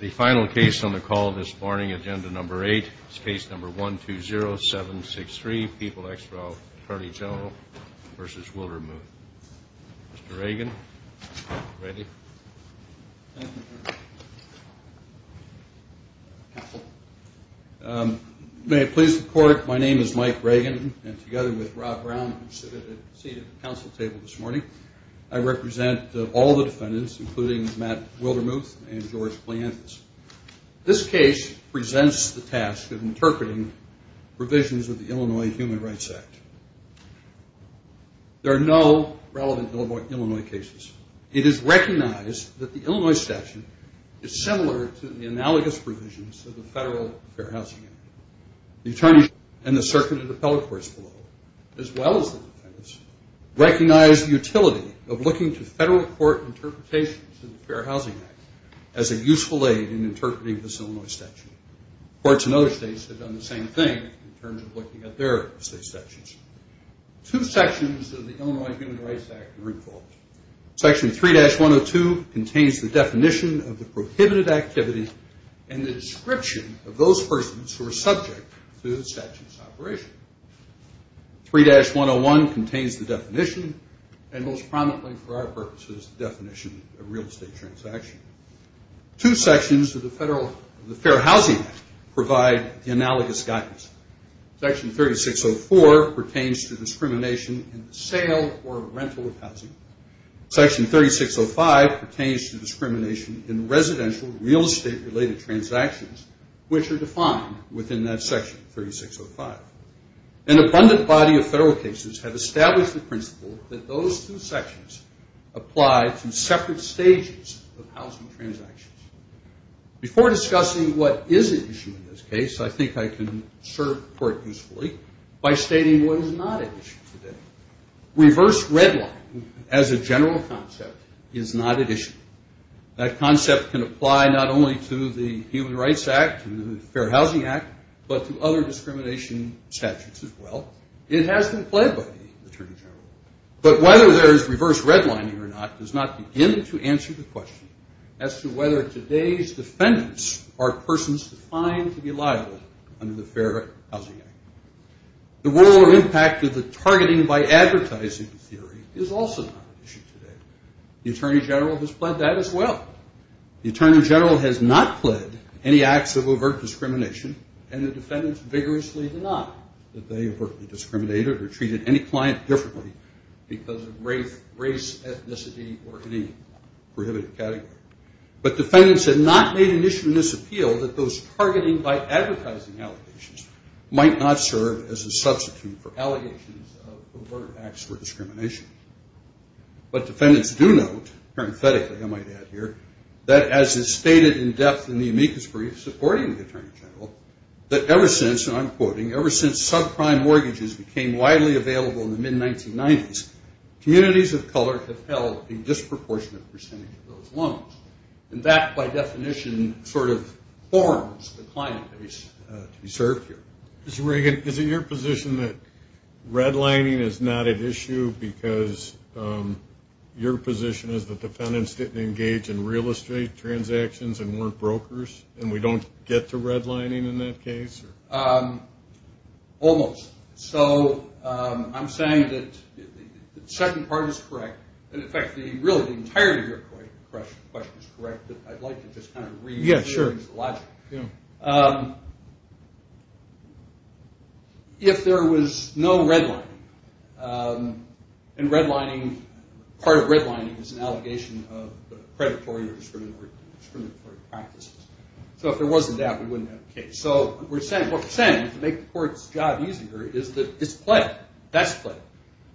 The final case on the call this morning, Agenda No. 8, is Case No. 120763, People ex rel. Attorney General v. Wildermuth. Mr. Reagan, ready? Thank you, Your Honor. May it please the Court, my name is Mike Reagan, and together with Rob Brown, who is seated at the Council table this morning, I represent all the defendants, including Matt Wildermuth and George Blanthus. This case presents the task of interpreting provisions of the Illinois Human Rights Act. There are no relevant Illinois cases. It is recognized that the Illinois statute is similar to the analogous provisions of the Federal Fair Housing Act. The attorneys and the circuit of the appellate courts below, as well as the defendants, recognize the utility of looking to Federal court interpretations of the Fair Housing Act as a useful aid in interpreting this Illinois statute. Courts in other states have done the same thing in terms of looking at their state statutes. Two sections of the Illinois Human Rights Act are involved. Section 3-102 contains the definition of the prohibited activity and the description of those persons who are subject to the statute's operation. 3-101 contains the definition, and most prominently for our purposes, the definition of real estate transaction. Two sections of the Federal Fair Housing Act provide the analogous guidance. Section 3604 pertains to discrimination in the sale or rental of housing. Section 3605 pertains to discrimination in residential real estate related transactions, which are defined within that section, 3605. An abundant body of Federal cases have established the principle that those two sections apply to separate stages of housing transactions. Before discussing what is at issue in this case, I think I can serve the court usefully by stating what is not at issue today. Reverse redlining as a general concept is not at issue. That concept can apply not only to the Human Rights Act and the Fair Housing Act, but to other discrimination statutes as well. It has been played by the Attorney General. But whether there is reverse redlining or not does not begin to answer the question as to whether today's defendants are persons defined to be liable under the Fair Housing Act. The role or impact of the targeting by advertising theory is also not at issue today. The Attorney General has pled that as well. The Attorney General has not pled any acts of overt discrimination, and the defendants vigorously deny that they overtly discriminated or treated any client differently because of race, ethnicity, or any prohibitive category. But defendants have not made an issue in this appeal that those targeting by advertising allegations might not serve as a substitute for allegations of overt acts of discrimination. But defendants do note, parenthetically I might add here, that as is stated in depth in the amicus brief supporting the Attorney General, that ever since, and I'm quoting, ever since subprime mortgages became widely available in the mid-1990s, communities of color have held a disproportionate percentage of those loans. And that, by definition, sort of forms the client base to be served here. Mr. Reagan, is it your position that redlining is not at issue because your position is that defendants didn't engage in real estate transactions and weren't brokers, and we don't get to redlining in that case? Almost. So I'm saying that the second part is correct. And, in fact, really the entirety of your question is correct, but I'd like to just kind of rephrase the logic. If there was no redlining, and redlining, part of redlining is an allegation of predatory or discriminatory practices. So if there wasn't that, we wouldn't have a case. So what we're saying is to make the court's job easier is that it's pled,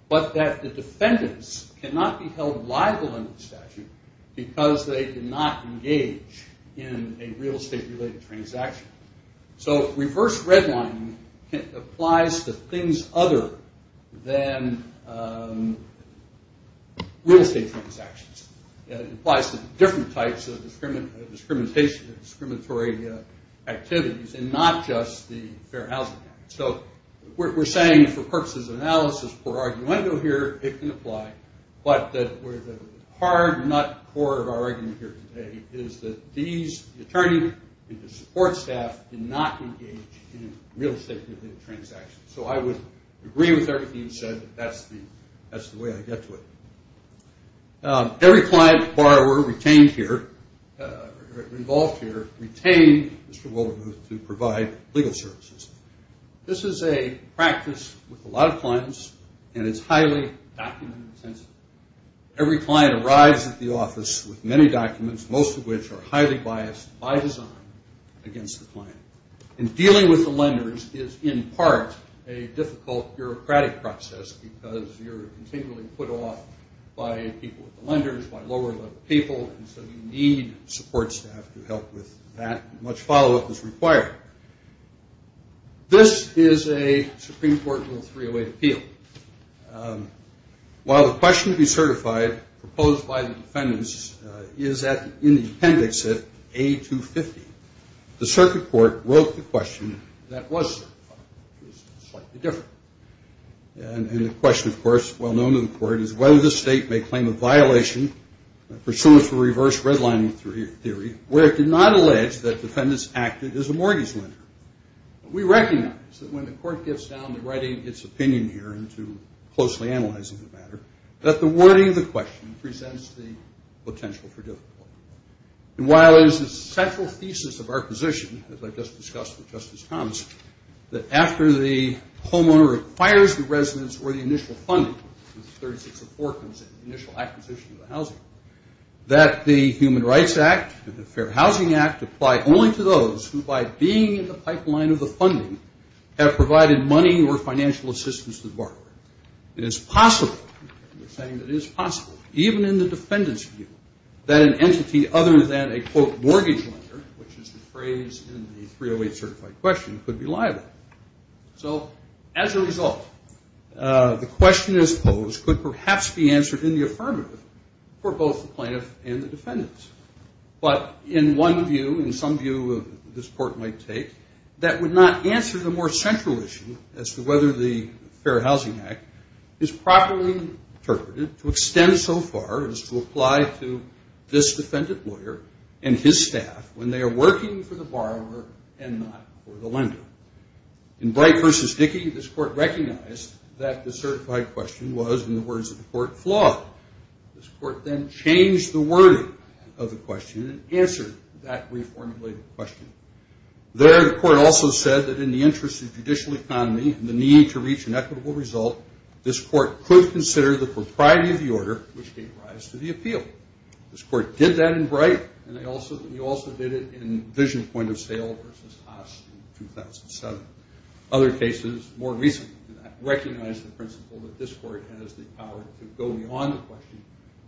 but that the defendants cannot be held liable under the statute because they did not engage in a real estate-related transaction. So reverse redlining applies to things other than real estate transactions. It applies to different types of discriminatory activities and not just the Fair Housing Act. So we're saying for purposes of analysis, for argument here, it can apply, but the hard nut core of our argument here today is that these attorneys and the support staff did not engage in real estate-related transactions. So I would agree with everything you said. That's the way I get to it. Every client borrower retained here, involved here, to provide legal services. This is a practice with a lot of clients, and it's highly document-intensive. Every client arrives at the office with many documents, most of which are highly biased by design against the client. And dealing with the lenders is in part a difficult bureaucratic process because you're continually put off by people with the lenders, by lower-level people, and so you need support staff to help with that, and much follow-up is required. This is a Supreme Court Rule 308 appeal. While the question to be certified proposed by the defendants is in the appendix at A250, the circuit court wrote the question that was certified. It was slightly different. And the question, of course, well-known to the court, is whether the state may claim a violation pursuant to reverse redlining theory where it did not allege that defendants acted as a mortgage lender. We recognize that when the court gets down to writing its opinion here and to closely analyzing the matter, that the wording of the question presents the potential for difficulty. And while it is the central thesis of our position, as I just discussed with Justice Thomas, that after the homeowner acquires the residence or the initial funding, the 36 of 4 comes in, the initial acquisition of the housing, that the Human Rights Act and the Fair Housing Act apply only to those who by being in the pipeline of the funding have provided money or financial assistance to the borrower. It is possible, and we're saying it is possible, even in the defendant's view, that an entity other than a, quote, mortgage lender, which is the phrase in the 308 certified question, could be liable. So as a result, the question as posed could perhaps be answered in the affirmative for both the plaintiff and the defendants. But in one view, in some view this court might take, that would not answer the more central issue as to whether the Fair Housing Act is properly interpreted to extend so far as to apply to this defendant lawyer and his staff when they are working for the borrower and not for the lender. In Bright v. Dickey, this court recognized that the certified question was, in the words of the court, flawed. This court then changed the wording of the question and answered that reformulated question. There the court also said that in the interest of judicial economy and the need to reach an equitable result, this court could consider the propriety of the order, which gave rise to the appeal. This court did that in Bright, and they also did it in Vision Point of Sale v. Haas in 2007. Other cases more recently than that recognize the principle that this court has the power to go beyond the question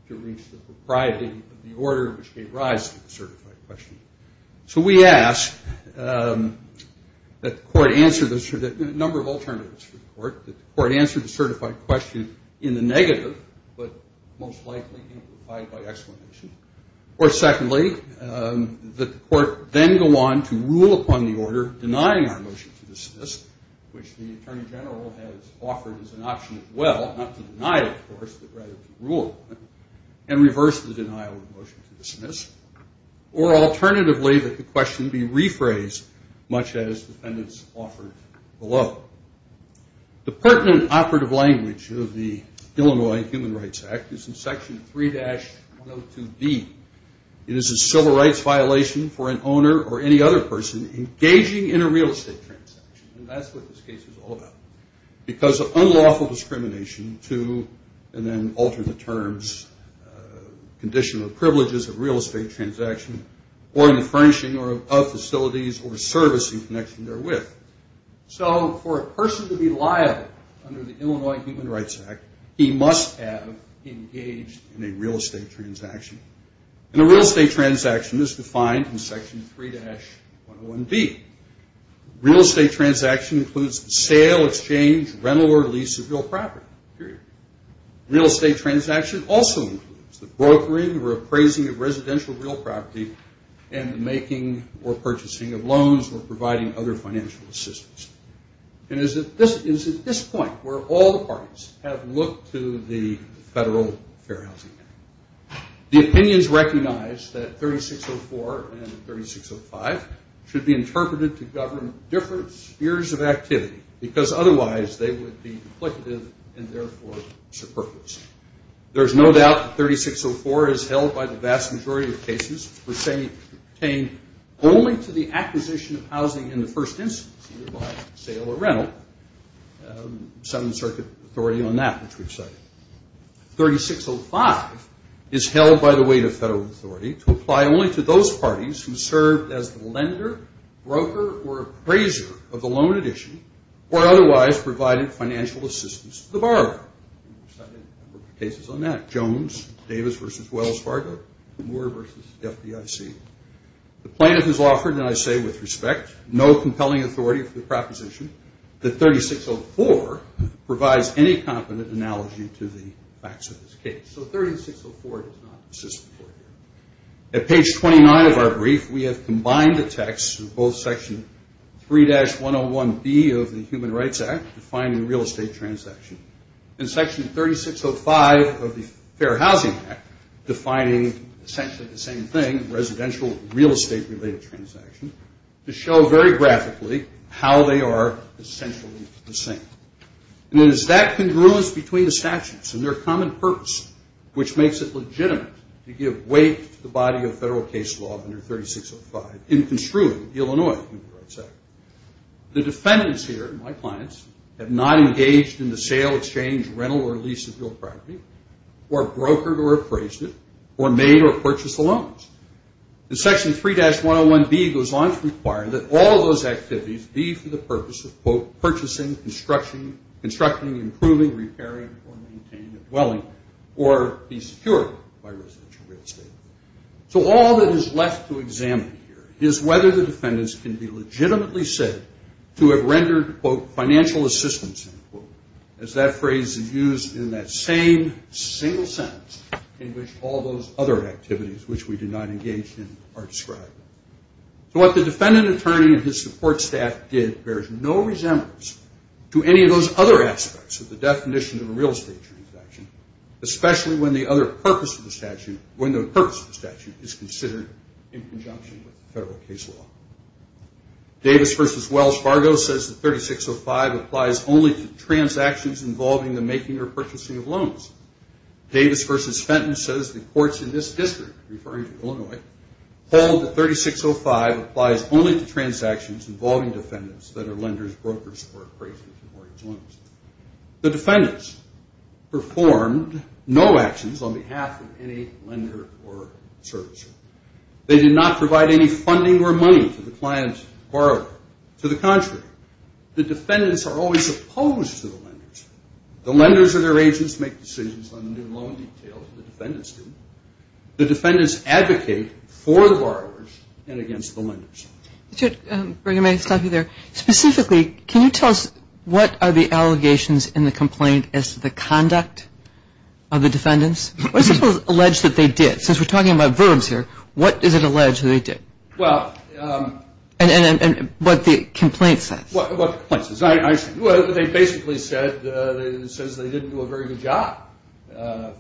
to reach the propriety of the order, which gave rise to the certified question. So we ask that the court answer this, a number of alternatives for the court, that the court answer the certified question in the negative, but most likely implied by exclamation. Or secondly, that the court then go on to rule upon the order denying our motion to dismiss, which the attorney general has offered as an option as well, not to deny it, of course, but rather to rule upon it, and reverse the denial of the motion to dismiss. Or alternatively, that the question be rephrased, much as defendants offered below. The pertinent operative language of the Illinois Human Rights Act is in Section 3-102B. It is a civil rights violation for an owner or any other person engaging in a real estate transaction, and that's what this case is all about, because of unlawful discrimination to, and then alter the terms, conditional privileges of real estate transaction or in the furnishing of facilities or servicing connection therewith. So for a person to be liable under the Illinois Human Rights Act, he must have engaged in a real estate transaction. And a real estate transaction is defined in Section 3-101B. Real estate transaction includes the sale, exchange, rental, or lease of real property, period. Real estate transaction also includes the brokering or appraising of residential real property and the making or purchasing of loans or providing other financial assistance. And it is at this point where all the parties have looked to the Federal Fair Housing Act. The opinions recognize that 3604 and 3605 should be interpreted to govern different spheres of activity, because otherwise they would be duplicative and therefore superfluous. There is no doubt that 3604 is held by the vast majority of cases pertaining only to the acquisition of housing in the first instance, either by sale or rental. Some circuit authority on that, which we've cited. 3605 is held by the weight of federal authority to apply only to those parties who served as the lender, broker, or appraiser of the loan at issue, or otherwise provided financial assistance to the borrower. We've cited a number of cases on that. Jones, Davis v. Wells Fargo, Moore v. FDIC. The plaintiff is offered, and I say with respect, no compelling authority for the proposition, that 3604 provides any competent analogy to the facts of this case. So 3604 does not exist before here. At page 29 of our brief, we have combined the texts of both section 3-101B of the Human Rights Act, defining real estate transaction, and section 3605 of the Fair Housing Act, defining essentially the same thing, residential real estate related transaction, to show very graphically how they are essentially the same. And it is that congruence between the statutes and their common purpose which makes it legitimate to give weight to the body of federal case law under 3605 in construing the Illinois Human Rights Act. The defendants here, my clients, have not engaged in the sale, exchange, rental, or lease of real property, or brokered or appraised it, or made or purchased the loans. The section 3-101B goes on to require that all those activities be for the purpose of, quote, So all that is left to examine here is whether the defendants can be legitimately said to have rendered, quote, financial assistance, end quote, as that phrase is used in that same single sentence in which all those other activities which we did not engage in are described. So what the defendant attorney and his support staff did bears no resemblance to any of those other aspects of the definition of a real estate transaction, especially when the other purpose of the statute, when the purpose of the statute is considered in conjunction with federal case law. Davis v. Wells Fargo says that 3605 applies only to transactions involving the making or purchasing of loans. Davis v. Fenton says the courts in this district, referring to Illinois, hold that 3605 applies only to transactions involving defendants that are lenders, brokers, or appraisers of mortgage loans. The defendants performed no actions on behalf of any lender or servicer. They did not provide any funding or money to the client borrower. To the contrary, the defendants are always opposed to the lenders. The lenders or their agents make decisions on the new loan details the defendants do. The defendants advocate for the borrowers and against the lenders. Mr. Brigham, may I stop you there? Specifically, can you tell us what are the allegations in the complaint as to the conduct of the defendants? What is alleged that they did? Since we're talking about verbs here, what is it alleged that they did? And what the complaint says. They basically said they didn't do a very good job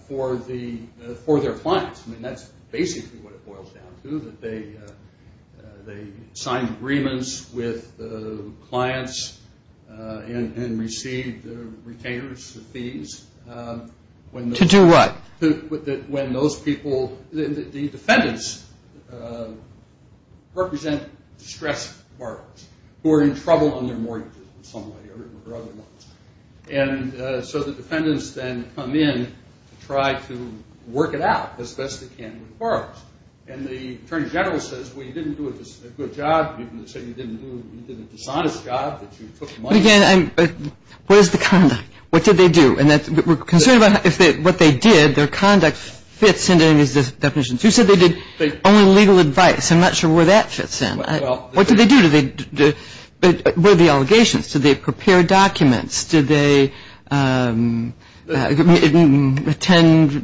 for their clients. I mean, that's basically what it boils down to, that they signed agreements with clients and received retainers' fees. To do what? The defendants represent distressed borrowers who are in trouble on their mortgages in some way or other. And so the defendants then come in to try to work it out as best they can with the borrowers. And the attorney general says, well, you didn't do a good job. They say you did a dishonest job, that you took money. But again, what is the conduct? What did they do? And we're concerned about what they did, their conduct fits into any of these definitions. You said they did only legal advice. I'm not sure where that fits in. What did they do? What are the allegations? Did they prepare documents? Did they attend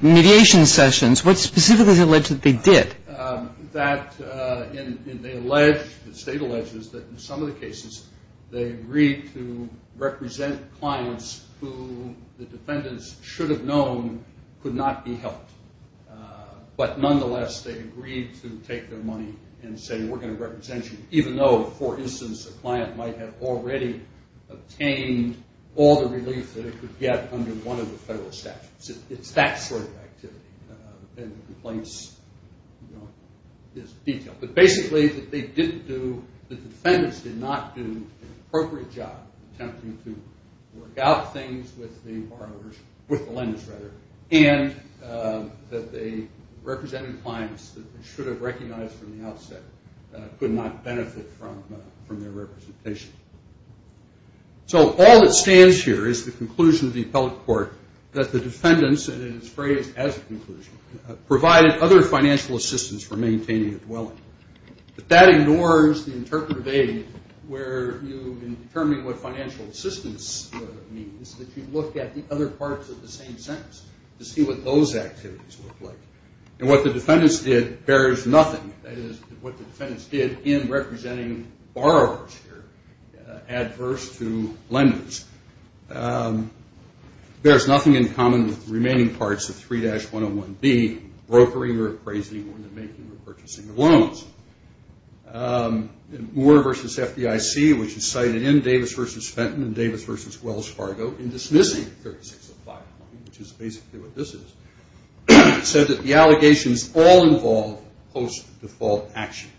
mediation sessions? What specifically is alleged that they did? The state alleges that in some of the cases, they agreed to represent clients who the defendants should have known could not be helped. But nonetheless, they agreed to take their money and say, we're going to represent you, even though, for instance, a client might have already obtained all the relief that it could get under one of the federal statutes. It's that sort of activity. And the complaints is detailed. But basically, that they didn't do, that the defendants did not do an appropriate job attempting to work out things with the borrowers, with the lenders, rather, and that they represented clients that they should have recognized from the outset could not benefit from their representation. So all that stands here is the conclusion of the appellate court that the defendants, and it is phrased as a conclusion, provided other financial assistance for maintaining a dwelling. But that ignores the interpretive aid where you, in determining what financial assistance means, that you look at the other parts of the same sentence to see what those activities look like. And what the defendants did bears nothing, that is, what the defendants did in representing borrowers here, adverse to lenders. There is nothing in common with the remaining parts of 3-101B, brokering or appraising or the making or purchasing of loans. Moore v. FDIC, which is cited in Davis v. Fenton and Davis v. Wells Fargo, in dismissing 36 of 5, which is basically what this is, said that the allegations all involve post-default action.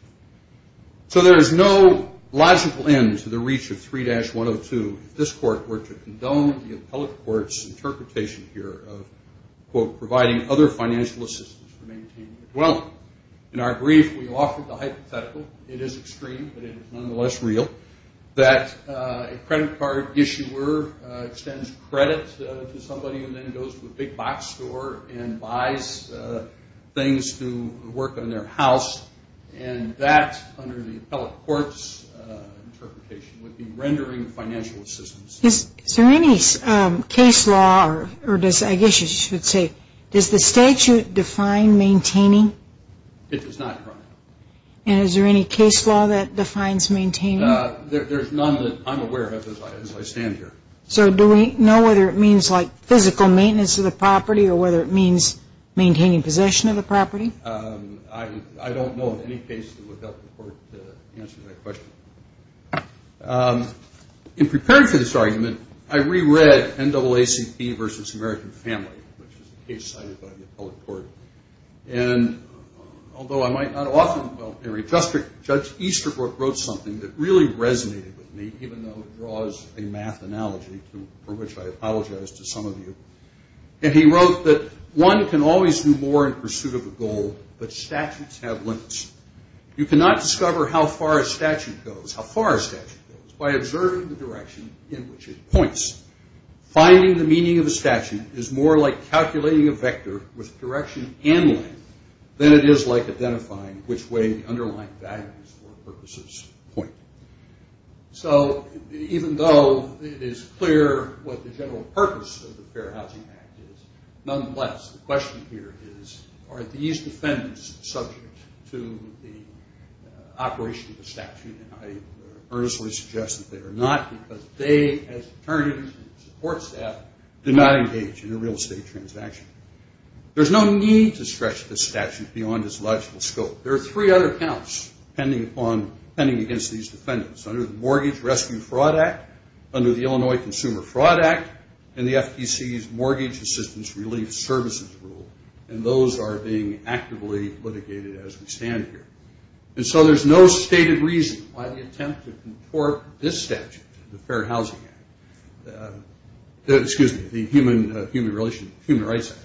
So there is no logical end to the reach of 3-102 if this court were to condone the appellate court's interpretation here of, quote, providing other financial assistance for maintaining a dwelling. In our brief, we offered the hypothetical. It is extreme, but it is nonetheless real, that a credit card issuer extends credit to somebody and then goes to a big box store and buys things to work on their house. And that, under the appellate court's interpretation, would be rendering financial assistance. Is there any case law, or I guess you should say, does the statute define maintaining? It does not, Your Honor. And is there any case law that defines maintaining? There is none that I am aware of as I stand here. So do we know whether it means like physical maintenance of the property or whether it means maintaining possession of the property? I don't know of any case that would help the court to answer that question. In preparing for this argument, I reread NAACP v. American Family, which is a case cited by the appellate court. And although I might not often, in justice, Judge Easterbrook wrote something that really resonated with me, even though it draws a math analogy for which I apologize to some of you. And he wrote that one can always do more in pursuit of a goal, but statutes have limits. You cannot discover how far a statute goes, how far a statute goes, by observing the direction in which it points. Finding the meaning of a statute is more like calculating a vector with direction and length than it is like identifying which way the underlying values for purposes point. So even though it is clear what the general purpose of the Fair Housing Act is, nonetheless, the question here is, are these defendants subject to the operation of the statute? And I earnestly suggest that they are not, because they, as attorneys and support staff, do not engage in a real estate transaction. There's no need to stretch the statute beyond its logical scope. There are three other counts pending against these defendants, under the Mortgage Rescue Fraud Act, under the Illinois Consumer Fraud Act, and the FTC's Mortgage Assistance Relief Services Rule, and those are being actively litigated as we stand here. And so there's no stated reason why the attempt to contort this statute, the Fair Housing Act, excuse me, the Human Rights Act,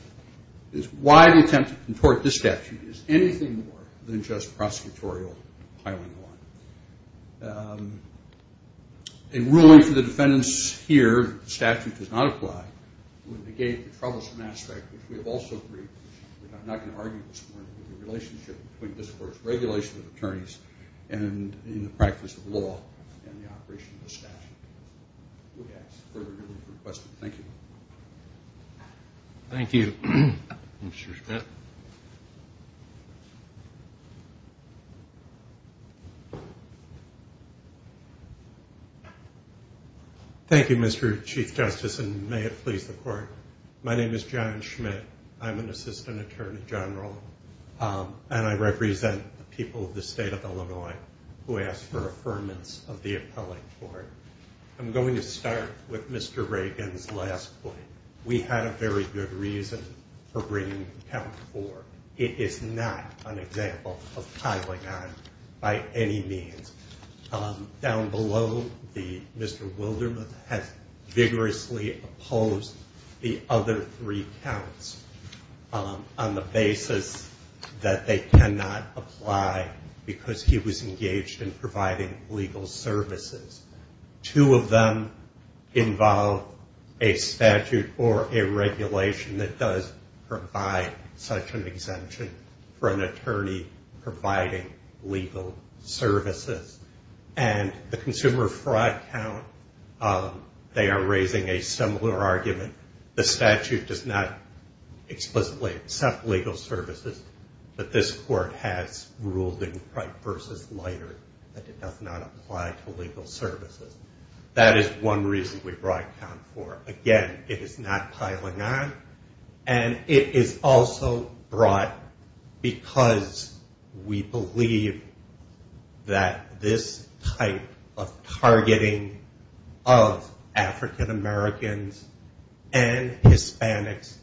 is why the attempt to contort this statute is anything more than just prosecutorial piling on. A ruling for the defendants here, the statute does not apply, would negate the troublesome aspect, which we have also briefed, which I'm not going to argue this morning, the relationship between this Court's regulation of attorneys and in the practice of law and the operation of the statute. Who has further questions? Thank you. Thank you, Mr. Schmidt. Thank you, Mr. Chief Justice, and may it please the Court. My name is John Schmidt. I'm an assistant attorney general, and I represent the people of the state of Illinois who ask for affirmance of the appellate court. I'm going to start with Mr. Reagan's last point. We had a very good reason for bringing Count 4. It is not an example of piling on by any means. Down below, Mr. Wildermuth has vigorously opposed the other three counts on the basis that they cannot apply because he was engaged in providing legal services. Two of them involve a statute or a regulation that does provide such an exemption for an attorney providing legal services. And the consumer fraud count, they are raising a similar argument. The statute does not explicitly accept legal services, but this Court has ruled in Bright v. Leiter that it does not apply to legal services. That is one reason we brought Count 4. Again, it is not piling on, and it is also brought because we believe that this type of targeting of African Americans and Hispanics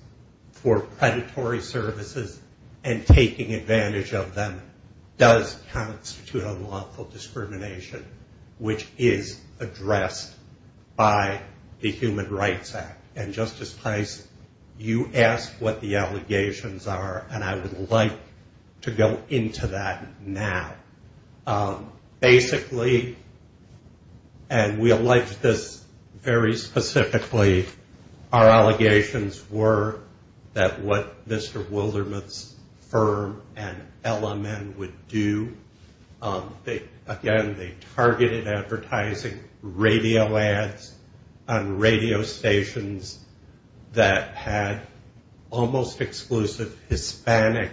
for predatory services and taking advantage of them does constitute unlawful discrimination, which is addressed by the Human Rights Act. And Justice Price, you asked what the allegations are, and I would like to go into that now. Basically, and we allege this very specifically, our allegations were that what Mr. Wildermuth's firm and LMN would do, again, they targeted advertising radio ads on radio stations that had almost exclusive Hispanic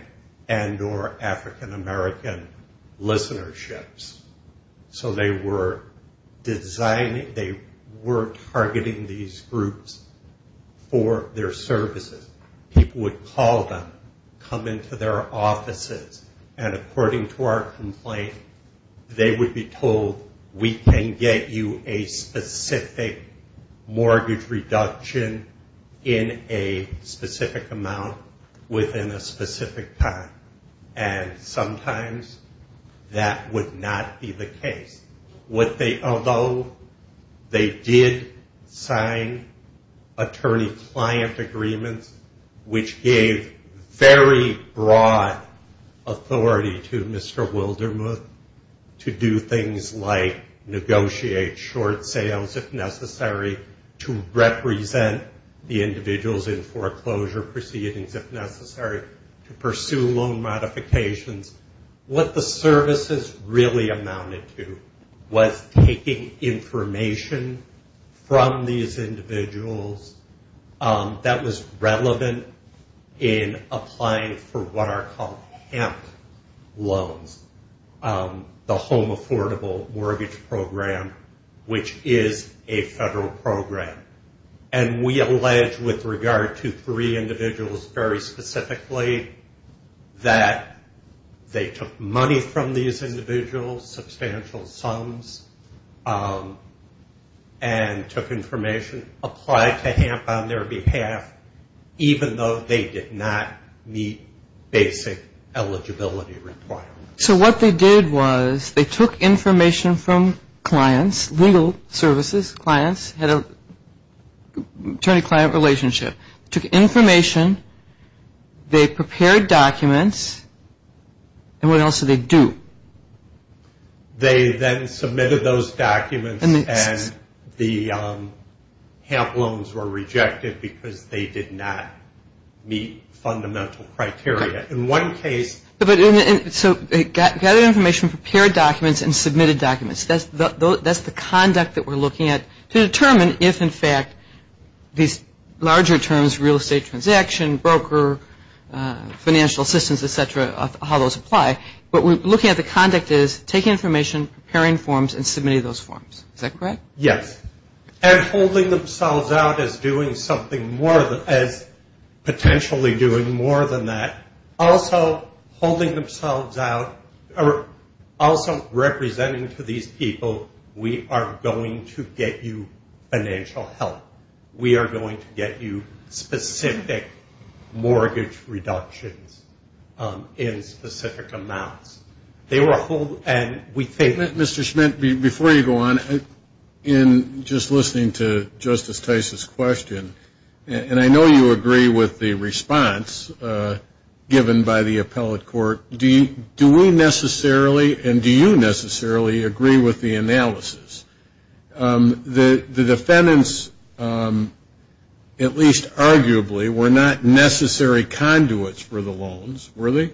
and or African American listenerships. So they were targeting these groups for their services. People would call them, come into their offices, and according to our complaint, they would be told, we can get you a specific mortgage reduction in a specific amount within a specific time. And sometimes that would not be the case. Although they did sign attorney-client agreements, which gave very broad authority to Mr. Wildermuth to do things like negotiate short sales if necessary, to represent the individuals in foreclosure proceedings if necessary, to pursue loan modifications. What the services really amounted to was taking information from these individuals that was relevant in applying for what are called HEMT loans, the Home Affordable Mortgage Program, which is a federal program. And we allege with regard to three individuals very specifically that they took money from these individuals, substantial sums, and took information, applied to HEMT on their behalf, even though they did not meet basic eligibility requirements. So what they did was they took information from clients, legal services clients, attorney-client relationship. Took information, they prepared documents, and what else did they do? They then submitted those documents and the HEMT loans were rejected because they did not meet fundamental criteria. So they gathered information, prepared documents, and submitted documents. That's the conduct that we're looking at to determine if, in fact, these larger terms, real estate transaction, broker, financial assistance, et cetera, how those apply. But we're looking at the conduct as taking information, preparing forms, and submitting those forms. Is that correct? Yes. And holding themselves out as doing something more, as potentially doing more than that, also holding themselves out or also representing to these people, we are going to get you financial help. We are going to get you specific mortgage reductions in specific amounts. They were a whole end. Mr. Schmidt, before you go on, in just listening to Justice Tice's question, and I know you agree with the response given by the appellate court, do we necessarily and do you necessarily agree with the analysis that the defendants, at least arguably, were not necessary conduits for the loans, were they?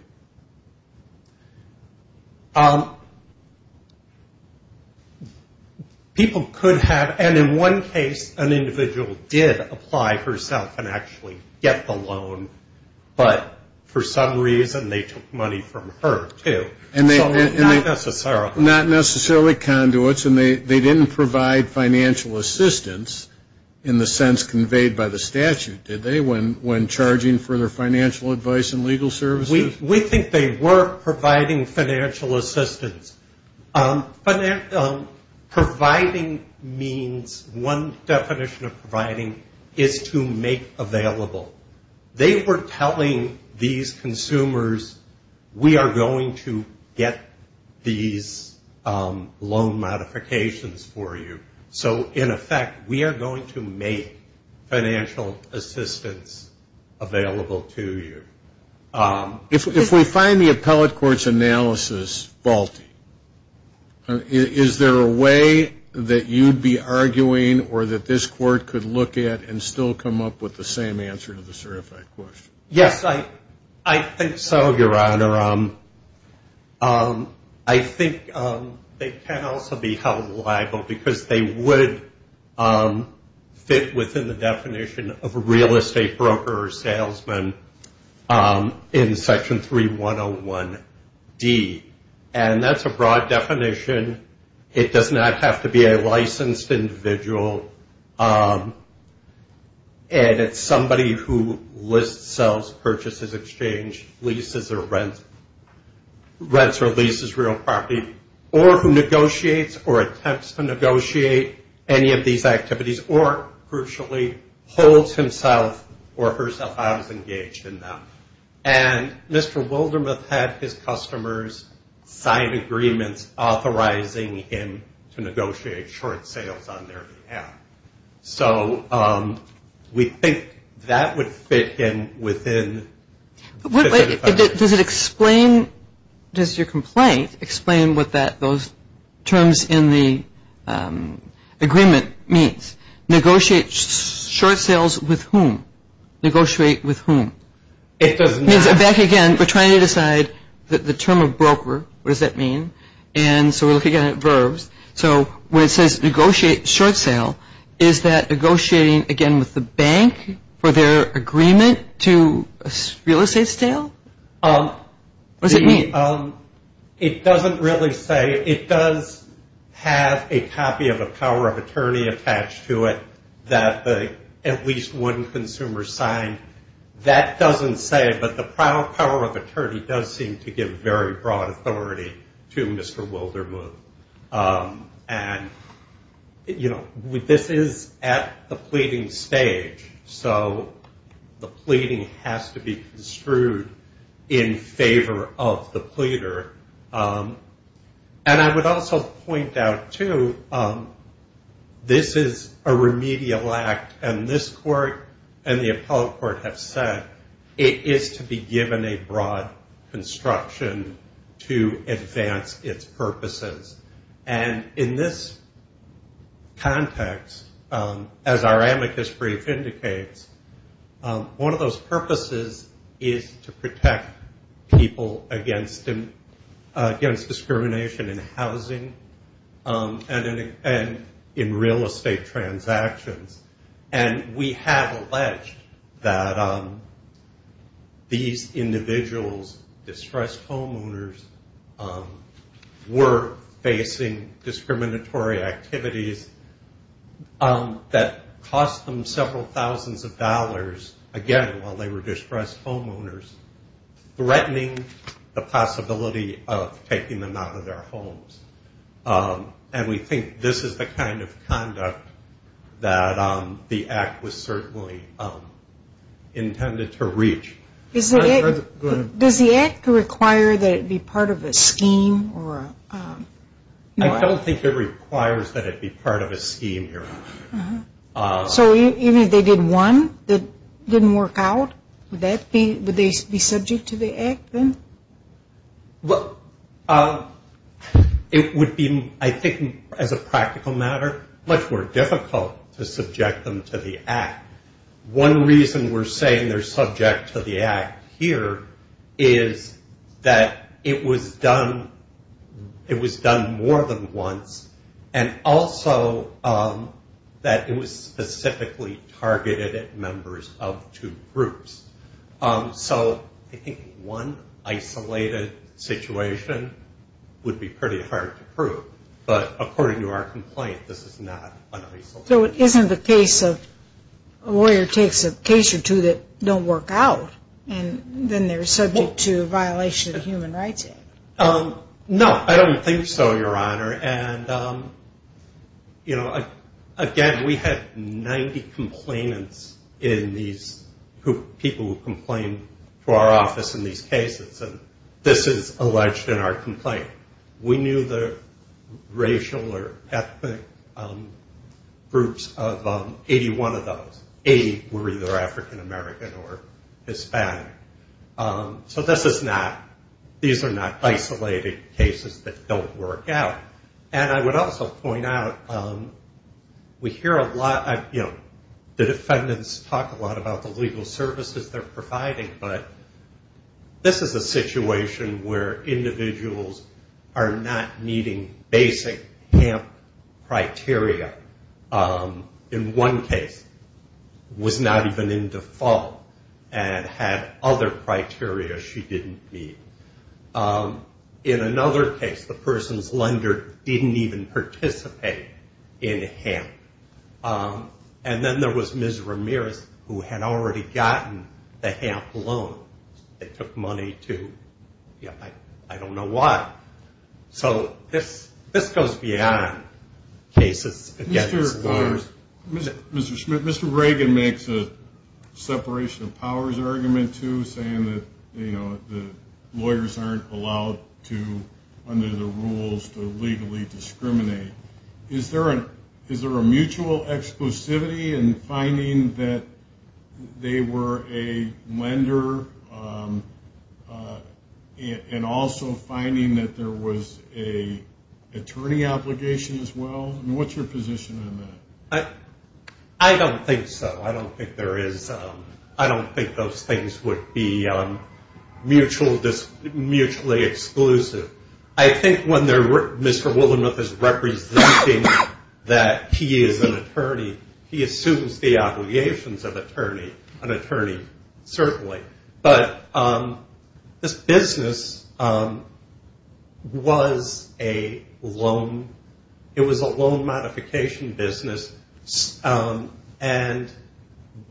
People could have, and in one case, an individual did apply herself and actually get the loan, but for some reason they took money from her, too. So not necessarily. Not necessarily conduits. And they didn't provide financial assistance in the sense conveyed by the statute, did they, when charging for their financial advice and legal services? We think they were providing financial assistance. Providing means, one definition of providing is to make available. They were telling these consumers, we are going to get these loan modifications for you. So, in effect, we are going to make financial assistance available to you. If we find the appellate court's analysis faulty, is there a way that you'd be arguing or that this court could look at and still come up with the same answer to the certified question? Yes, I think so, Your Honor. I think they can also be held liable because they would fit within the definition of a real estate broker or salesman in Section 3101D, and that's a broad definition. It does not have to be a licensed individual, and it's somebody who lists, sells, purchases, exchanges, leases or rents, rents or leases real property, or who negotiates or attempts to negotiate any of these activities or, crucially, holds himself or herself out as engaged in them. And Mr. Wildermuth had his customers sign agreements authorizing him to negotiate short sales on their behalf. So we think that would fit in within the definition. Does it explain, does your complaint explain what those terms in the agreement means? Negotiate short sales with whom? Negotiate with whom? It does not. Back again, we're trying to decide the term of broker. What does that mean? And so we're looking at verbs. So when it says negotiate short sale, is that negotiating, again, with the bank for their agreement to real estate sale? What does it mean? It doesn't really say. It does have a copy of a power of attorney attached to it that at least one consumer signed. That doesn't say it, but the power of attorney does seem to give very broad authority to Mr. Wildermuth. And, you know, this is at the pleading stage, so the pleading has to be construed in favor of the pleader. And I would also point out, too, this is a remedial act, and this court and the appellate court have said it is to be given a broad construction to advance its purposes. And in this context, as our amicus brief indicates, one of those purposes is to protect people against discrimination in housing and in real estate transactions. And we have alleged that these individuals, distressed homeowners, were facing discriminatory activities that cost them several thousands of dollars, again, while they were distressed homeowners, threatening the possibility of taking them out of their homes. And we think this is the kind of conduct that the act was certainly intended to reach. Does the act require that it be part of a scheme? I don't think it requires that it be part of a scheme, Your Honor. So even if they did one that didn't work out, would they be subject to the act then? Well, it would be, I think, as a practical matter, much more difficult to subject them to the act. One reason we're saying they're subject to the act here is that it was done more than once, and also that it was specifically targeted at members of two groups. So I think one isolated situation would be pretty hard to prove. But according to our complaint, this is not an isolated situation. So it isn't the case of a lawyer takes a case or two that don't work out, and then they're subject to a violation of the Human Rights Act? No, I don't think so, Your Honor. And, you know, again, we had 90 complainants in these people who complained to our office in these cases, and this is alleged in our complaint. We knew the racial or ethnic groups of 81 of those. 80 were either African American or Hispanic. So this is not, these are not isolated cases that don't work out. And I would also point out, we hear a lot, you know, the defendants talk a lot about the legal services they're providing, but this is a situation where individuals are not meeting basic HAMP criteria. In one case, was not even in default and had other criteria she didn't meet. In another case, the person's lender didn't even participate in HAMP. And then there was Ms. Ramirez, who had already gotten the HAMP loan. They took money to, you know, I don't know why. So this goes beyond cases against lawyers. Mr. Schmidt, Mr. Reagan makes a separation of powers argument, too, saying that, you know, lawyers aren't allowed to, under the rules, to legally discriminate. Is there a mutual exclusivity in finding that they were a lender and also finding that there was an attorney obligation as well? I mean, what's your position on that? I don't think so. I don't think there is. I don't think those things would be mutually exclusive. I think when Mr. Willingworth is representing that he is an attorney, he assumes the obligations of an attorney, certainly. But this business was a loan modification business, and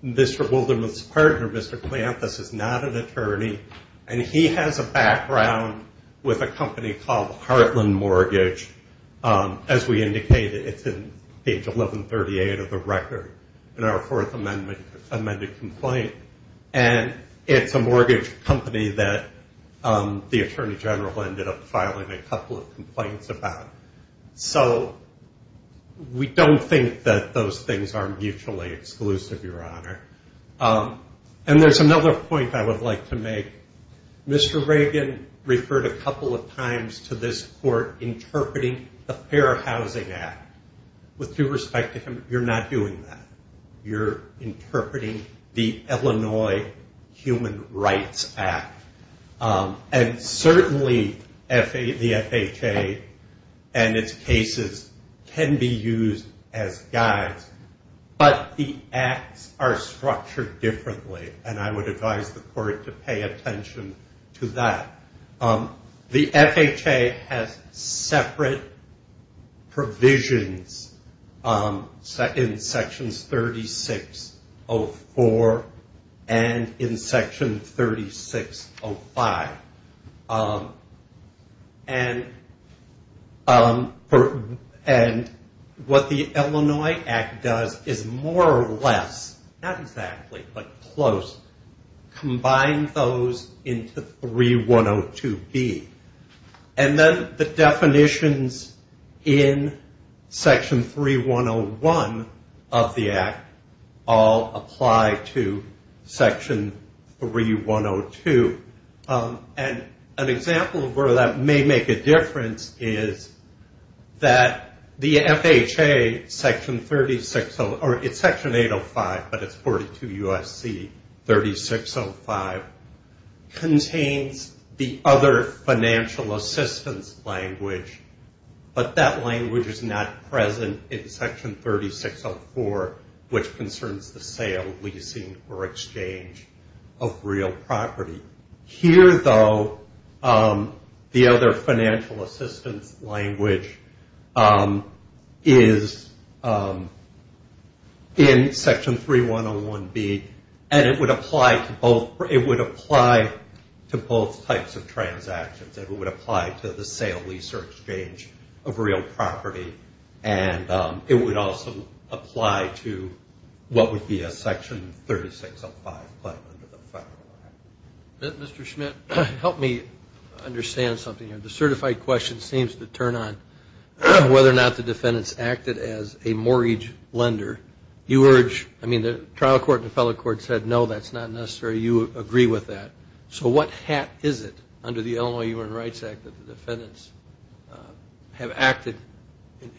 Mr. Willingworth's partner, Mr. Piantas, is not an attorney, and he has a background with a company called Heartland Mortgage. As we indicated, it's in page 1138 of the record in our fourth amended complaint, and it's a mortgage company that the attorney general ended up filing a couple of complaints about. So we don't think that those things are mutually exclusive, Your Honor. And there's another point I would like to make. Mr. Reagan referred a couple of times to this court interpreting the Fair Housing Act. With due respect to him, you're not doing that. You're interpreting the Illinois Human Rights Act. And certainly the FHA and its cases can be used as guides, but the acts are structured differently, and I would advise the court to pay attention to that. The FHA has separate provisions in Sections 3604 and in Section 3605. And what the Illinois Act does is more or less, not exactly, but close, combine those into 3102B. And then the definitions in Section 3101 of the Act all apply to Section 3102. And an example of where that may make a difference is that the FHA Section 805, but it's 42 U.S.C. 3605, contains the other financial assistance language, but that language is not present in Section 3604, which concerns the sale, leasing, or exchange of real property. Here, though, the other financial assistance language is in Section 3101B, and it would apply to both types of transactions. It would apply to the sale, leasing, or exchange of real property, and it would also apply to what would be a Section 3605 claim under the Federal Act. Mr. Schmidt, help me understand something here. The certified question seems to turn on whether or not the defendants acted as a mortgage lender. You urge, I mean, the trial court and the federal court said, no, that's not necessary. You agree with that. So what hat is it under the Illinois Human Rights Act that the defendants have acted?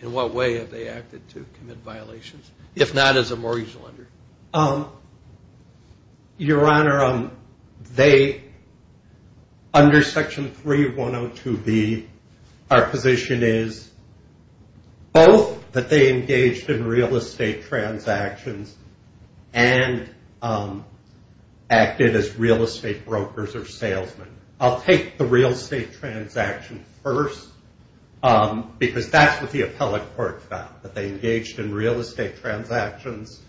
In what way have they acted to commit violations, if not as a mortgage lender? Your Honor, under Section 3102B, our position is both that they engaged in real estate transactions and acted as real estate brokers or salesmen. I'll take the real estate transaction first because that's what the appellate court found, that they engaged in real estate transactions,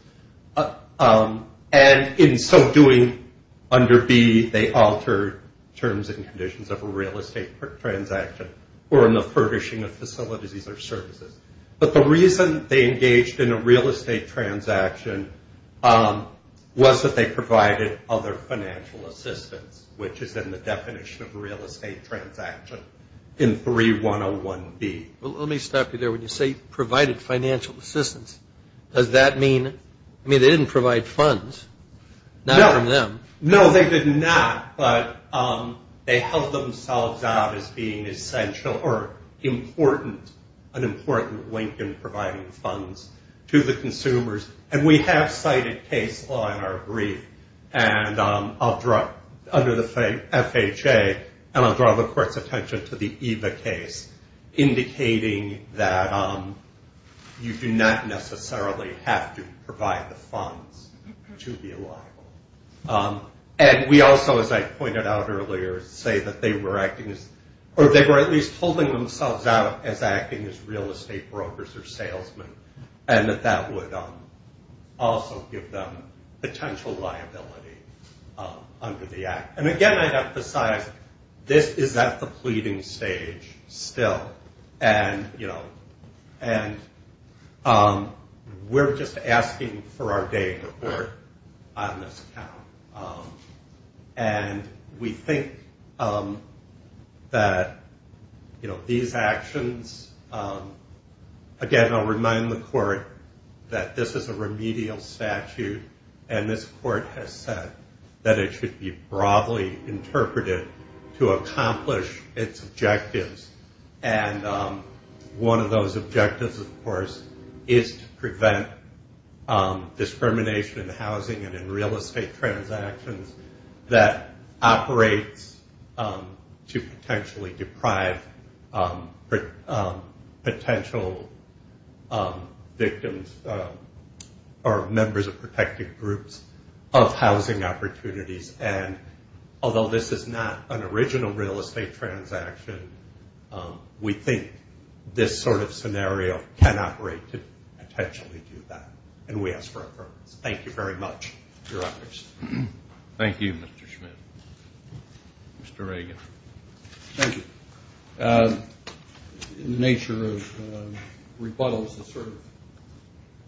and in so doing, under B, they altered terms and conditions of a real estate transaction or in the furnishing of facilities or services. But the reason they engaged in a real estate transaction was that they provided other financial assistance, which is in the definition of a real estate transaction in 3101B. Let me stop you there. When you say provided financial assistance, does that mean, I mean, they didn't provide funds, not from them. No, they did not, but they held themselves out as being essential or important, an important link in providing funds to the consumers. And we have cited case law in our brief, and I'll draw, under the FHA, and I'll draw the court's attention to the EVA case, indicating that you do not necessarily have to provide the funds to be liable. And we also, as I pointed out earlier, say that they were acting as, or they were at least holding themselves out as acting as real estate brokers or salesmen, and that that would also give them potential liability under the Act. And again, I'd emphasize, this is at the pleading stage still, and, you know, and we're just asking for our day in the court on this account. And we think that, you know, these actions, again, I'll remind the court that this is a remedial statute, and this court has said that it should be broadly interpreted to accomplish its objectives. And one of those objectives, of course, is to prevent discrimination in housing and in real estate transactions that operates to potentially deprive potential victims or members of protected groups of housing opportunities. And although this is not an original real estate transaction, we think this sort of scenario can operate to potentially do that, and we ask for approval. Thank you very much, Your Honors. Thank you, Mr. Schmidt. Mr. Reagan. Thank you. In the nature of rebuttals,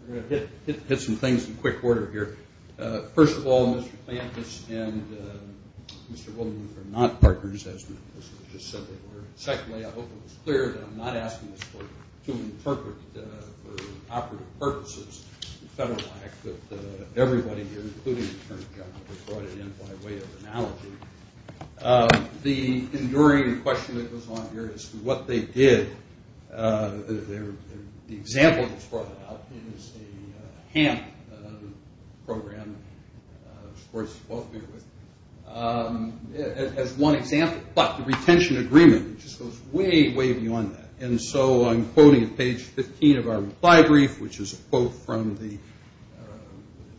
I'm going to hit some things in quick order here. First of all, Mr. Plantis and Mr. Woodman are not partners, as Mr. Schmidt just said they were. Secondly, I hope it's clear that I'm not asking this court to interpret for operative purposes the Federal Act, but everybody here, including Attorney General, has brought it in by way of analogy. The enduring question that goes on here as to what they did, the example that's brought up is a HAMP, another program the courts have both been with, as one example. But the retention agreement just goes way, way beyond that. And so I'm quoting at page 15 of our reply brief, which is a quote from the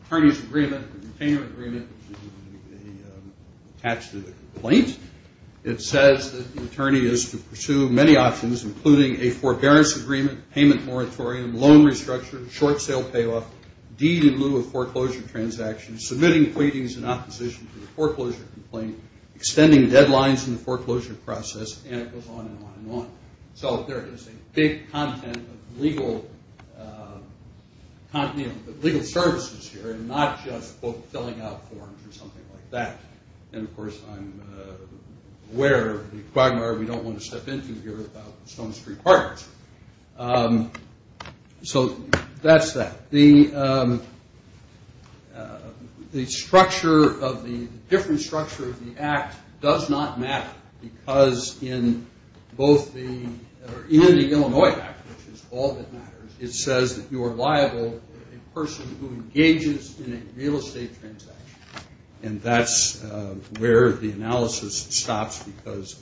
attorneys' agreement, the retainer agreement, which is attached to the complaint. It says that the attorney is to pursue many options, including a forbearance agreement, payment moratorium, loan restructure, short sale payoff, deed in lieu of foreclosure transactions, submitting pleadings in opposition to the foreclosure complaint, extending deadlines in the foreclosure process, and it goes on and on and on. So there is a big content of legal services here and not just both filling out forms or something like that. And, of course, I'm aware of the quagmire we don't want to step into here about Stone Street Park. So that's that. The structure of the different structure of the act does not matter because in both the Illinois Act, which is all that matters, it says that you are liable for a person who engages in a real estate transaction. And that's where the analysis stops because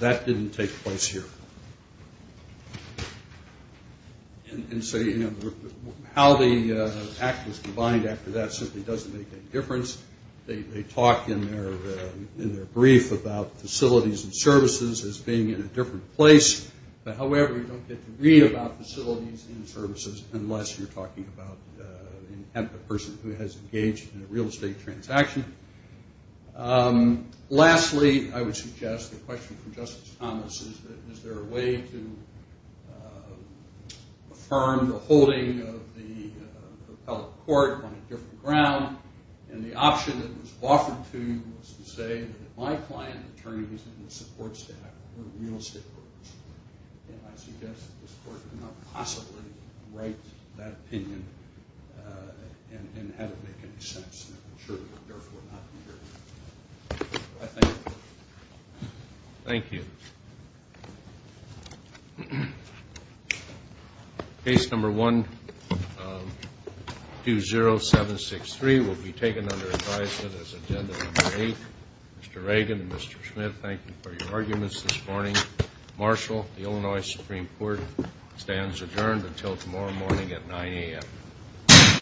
that didn't take place here. And so, you know, how the act is combined after that simply doesn't make any difference. They talk in their brief about facilities and services as being in a different place. However, you don't get to read about facilities and services unless you're talking about a person who has engaged in a real estate transaction. Lastly, I would suggest a question from Justice Thomas. Is there a way to affirm the holding of the appellate court on a different ground? And the option that was offered to you was to say that my client attorneys and the support staff were real estate brokers. And I suggest that this court could not possibly write that opinion and have it make any sense. And I'm sure it would therefore not be heard. I thank you. Thank you. Case number 120763 will be taken under advisement as agenda number eight. Mr. Reagan and Mr. Schmidt, thank you for your arguments this morning. Marshal, the Illinois Supreme Court stands adjourned until tomorrow morning at 9 a.m.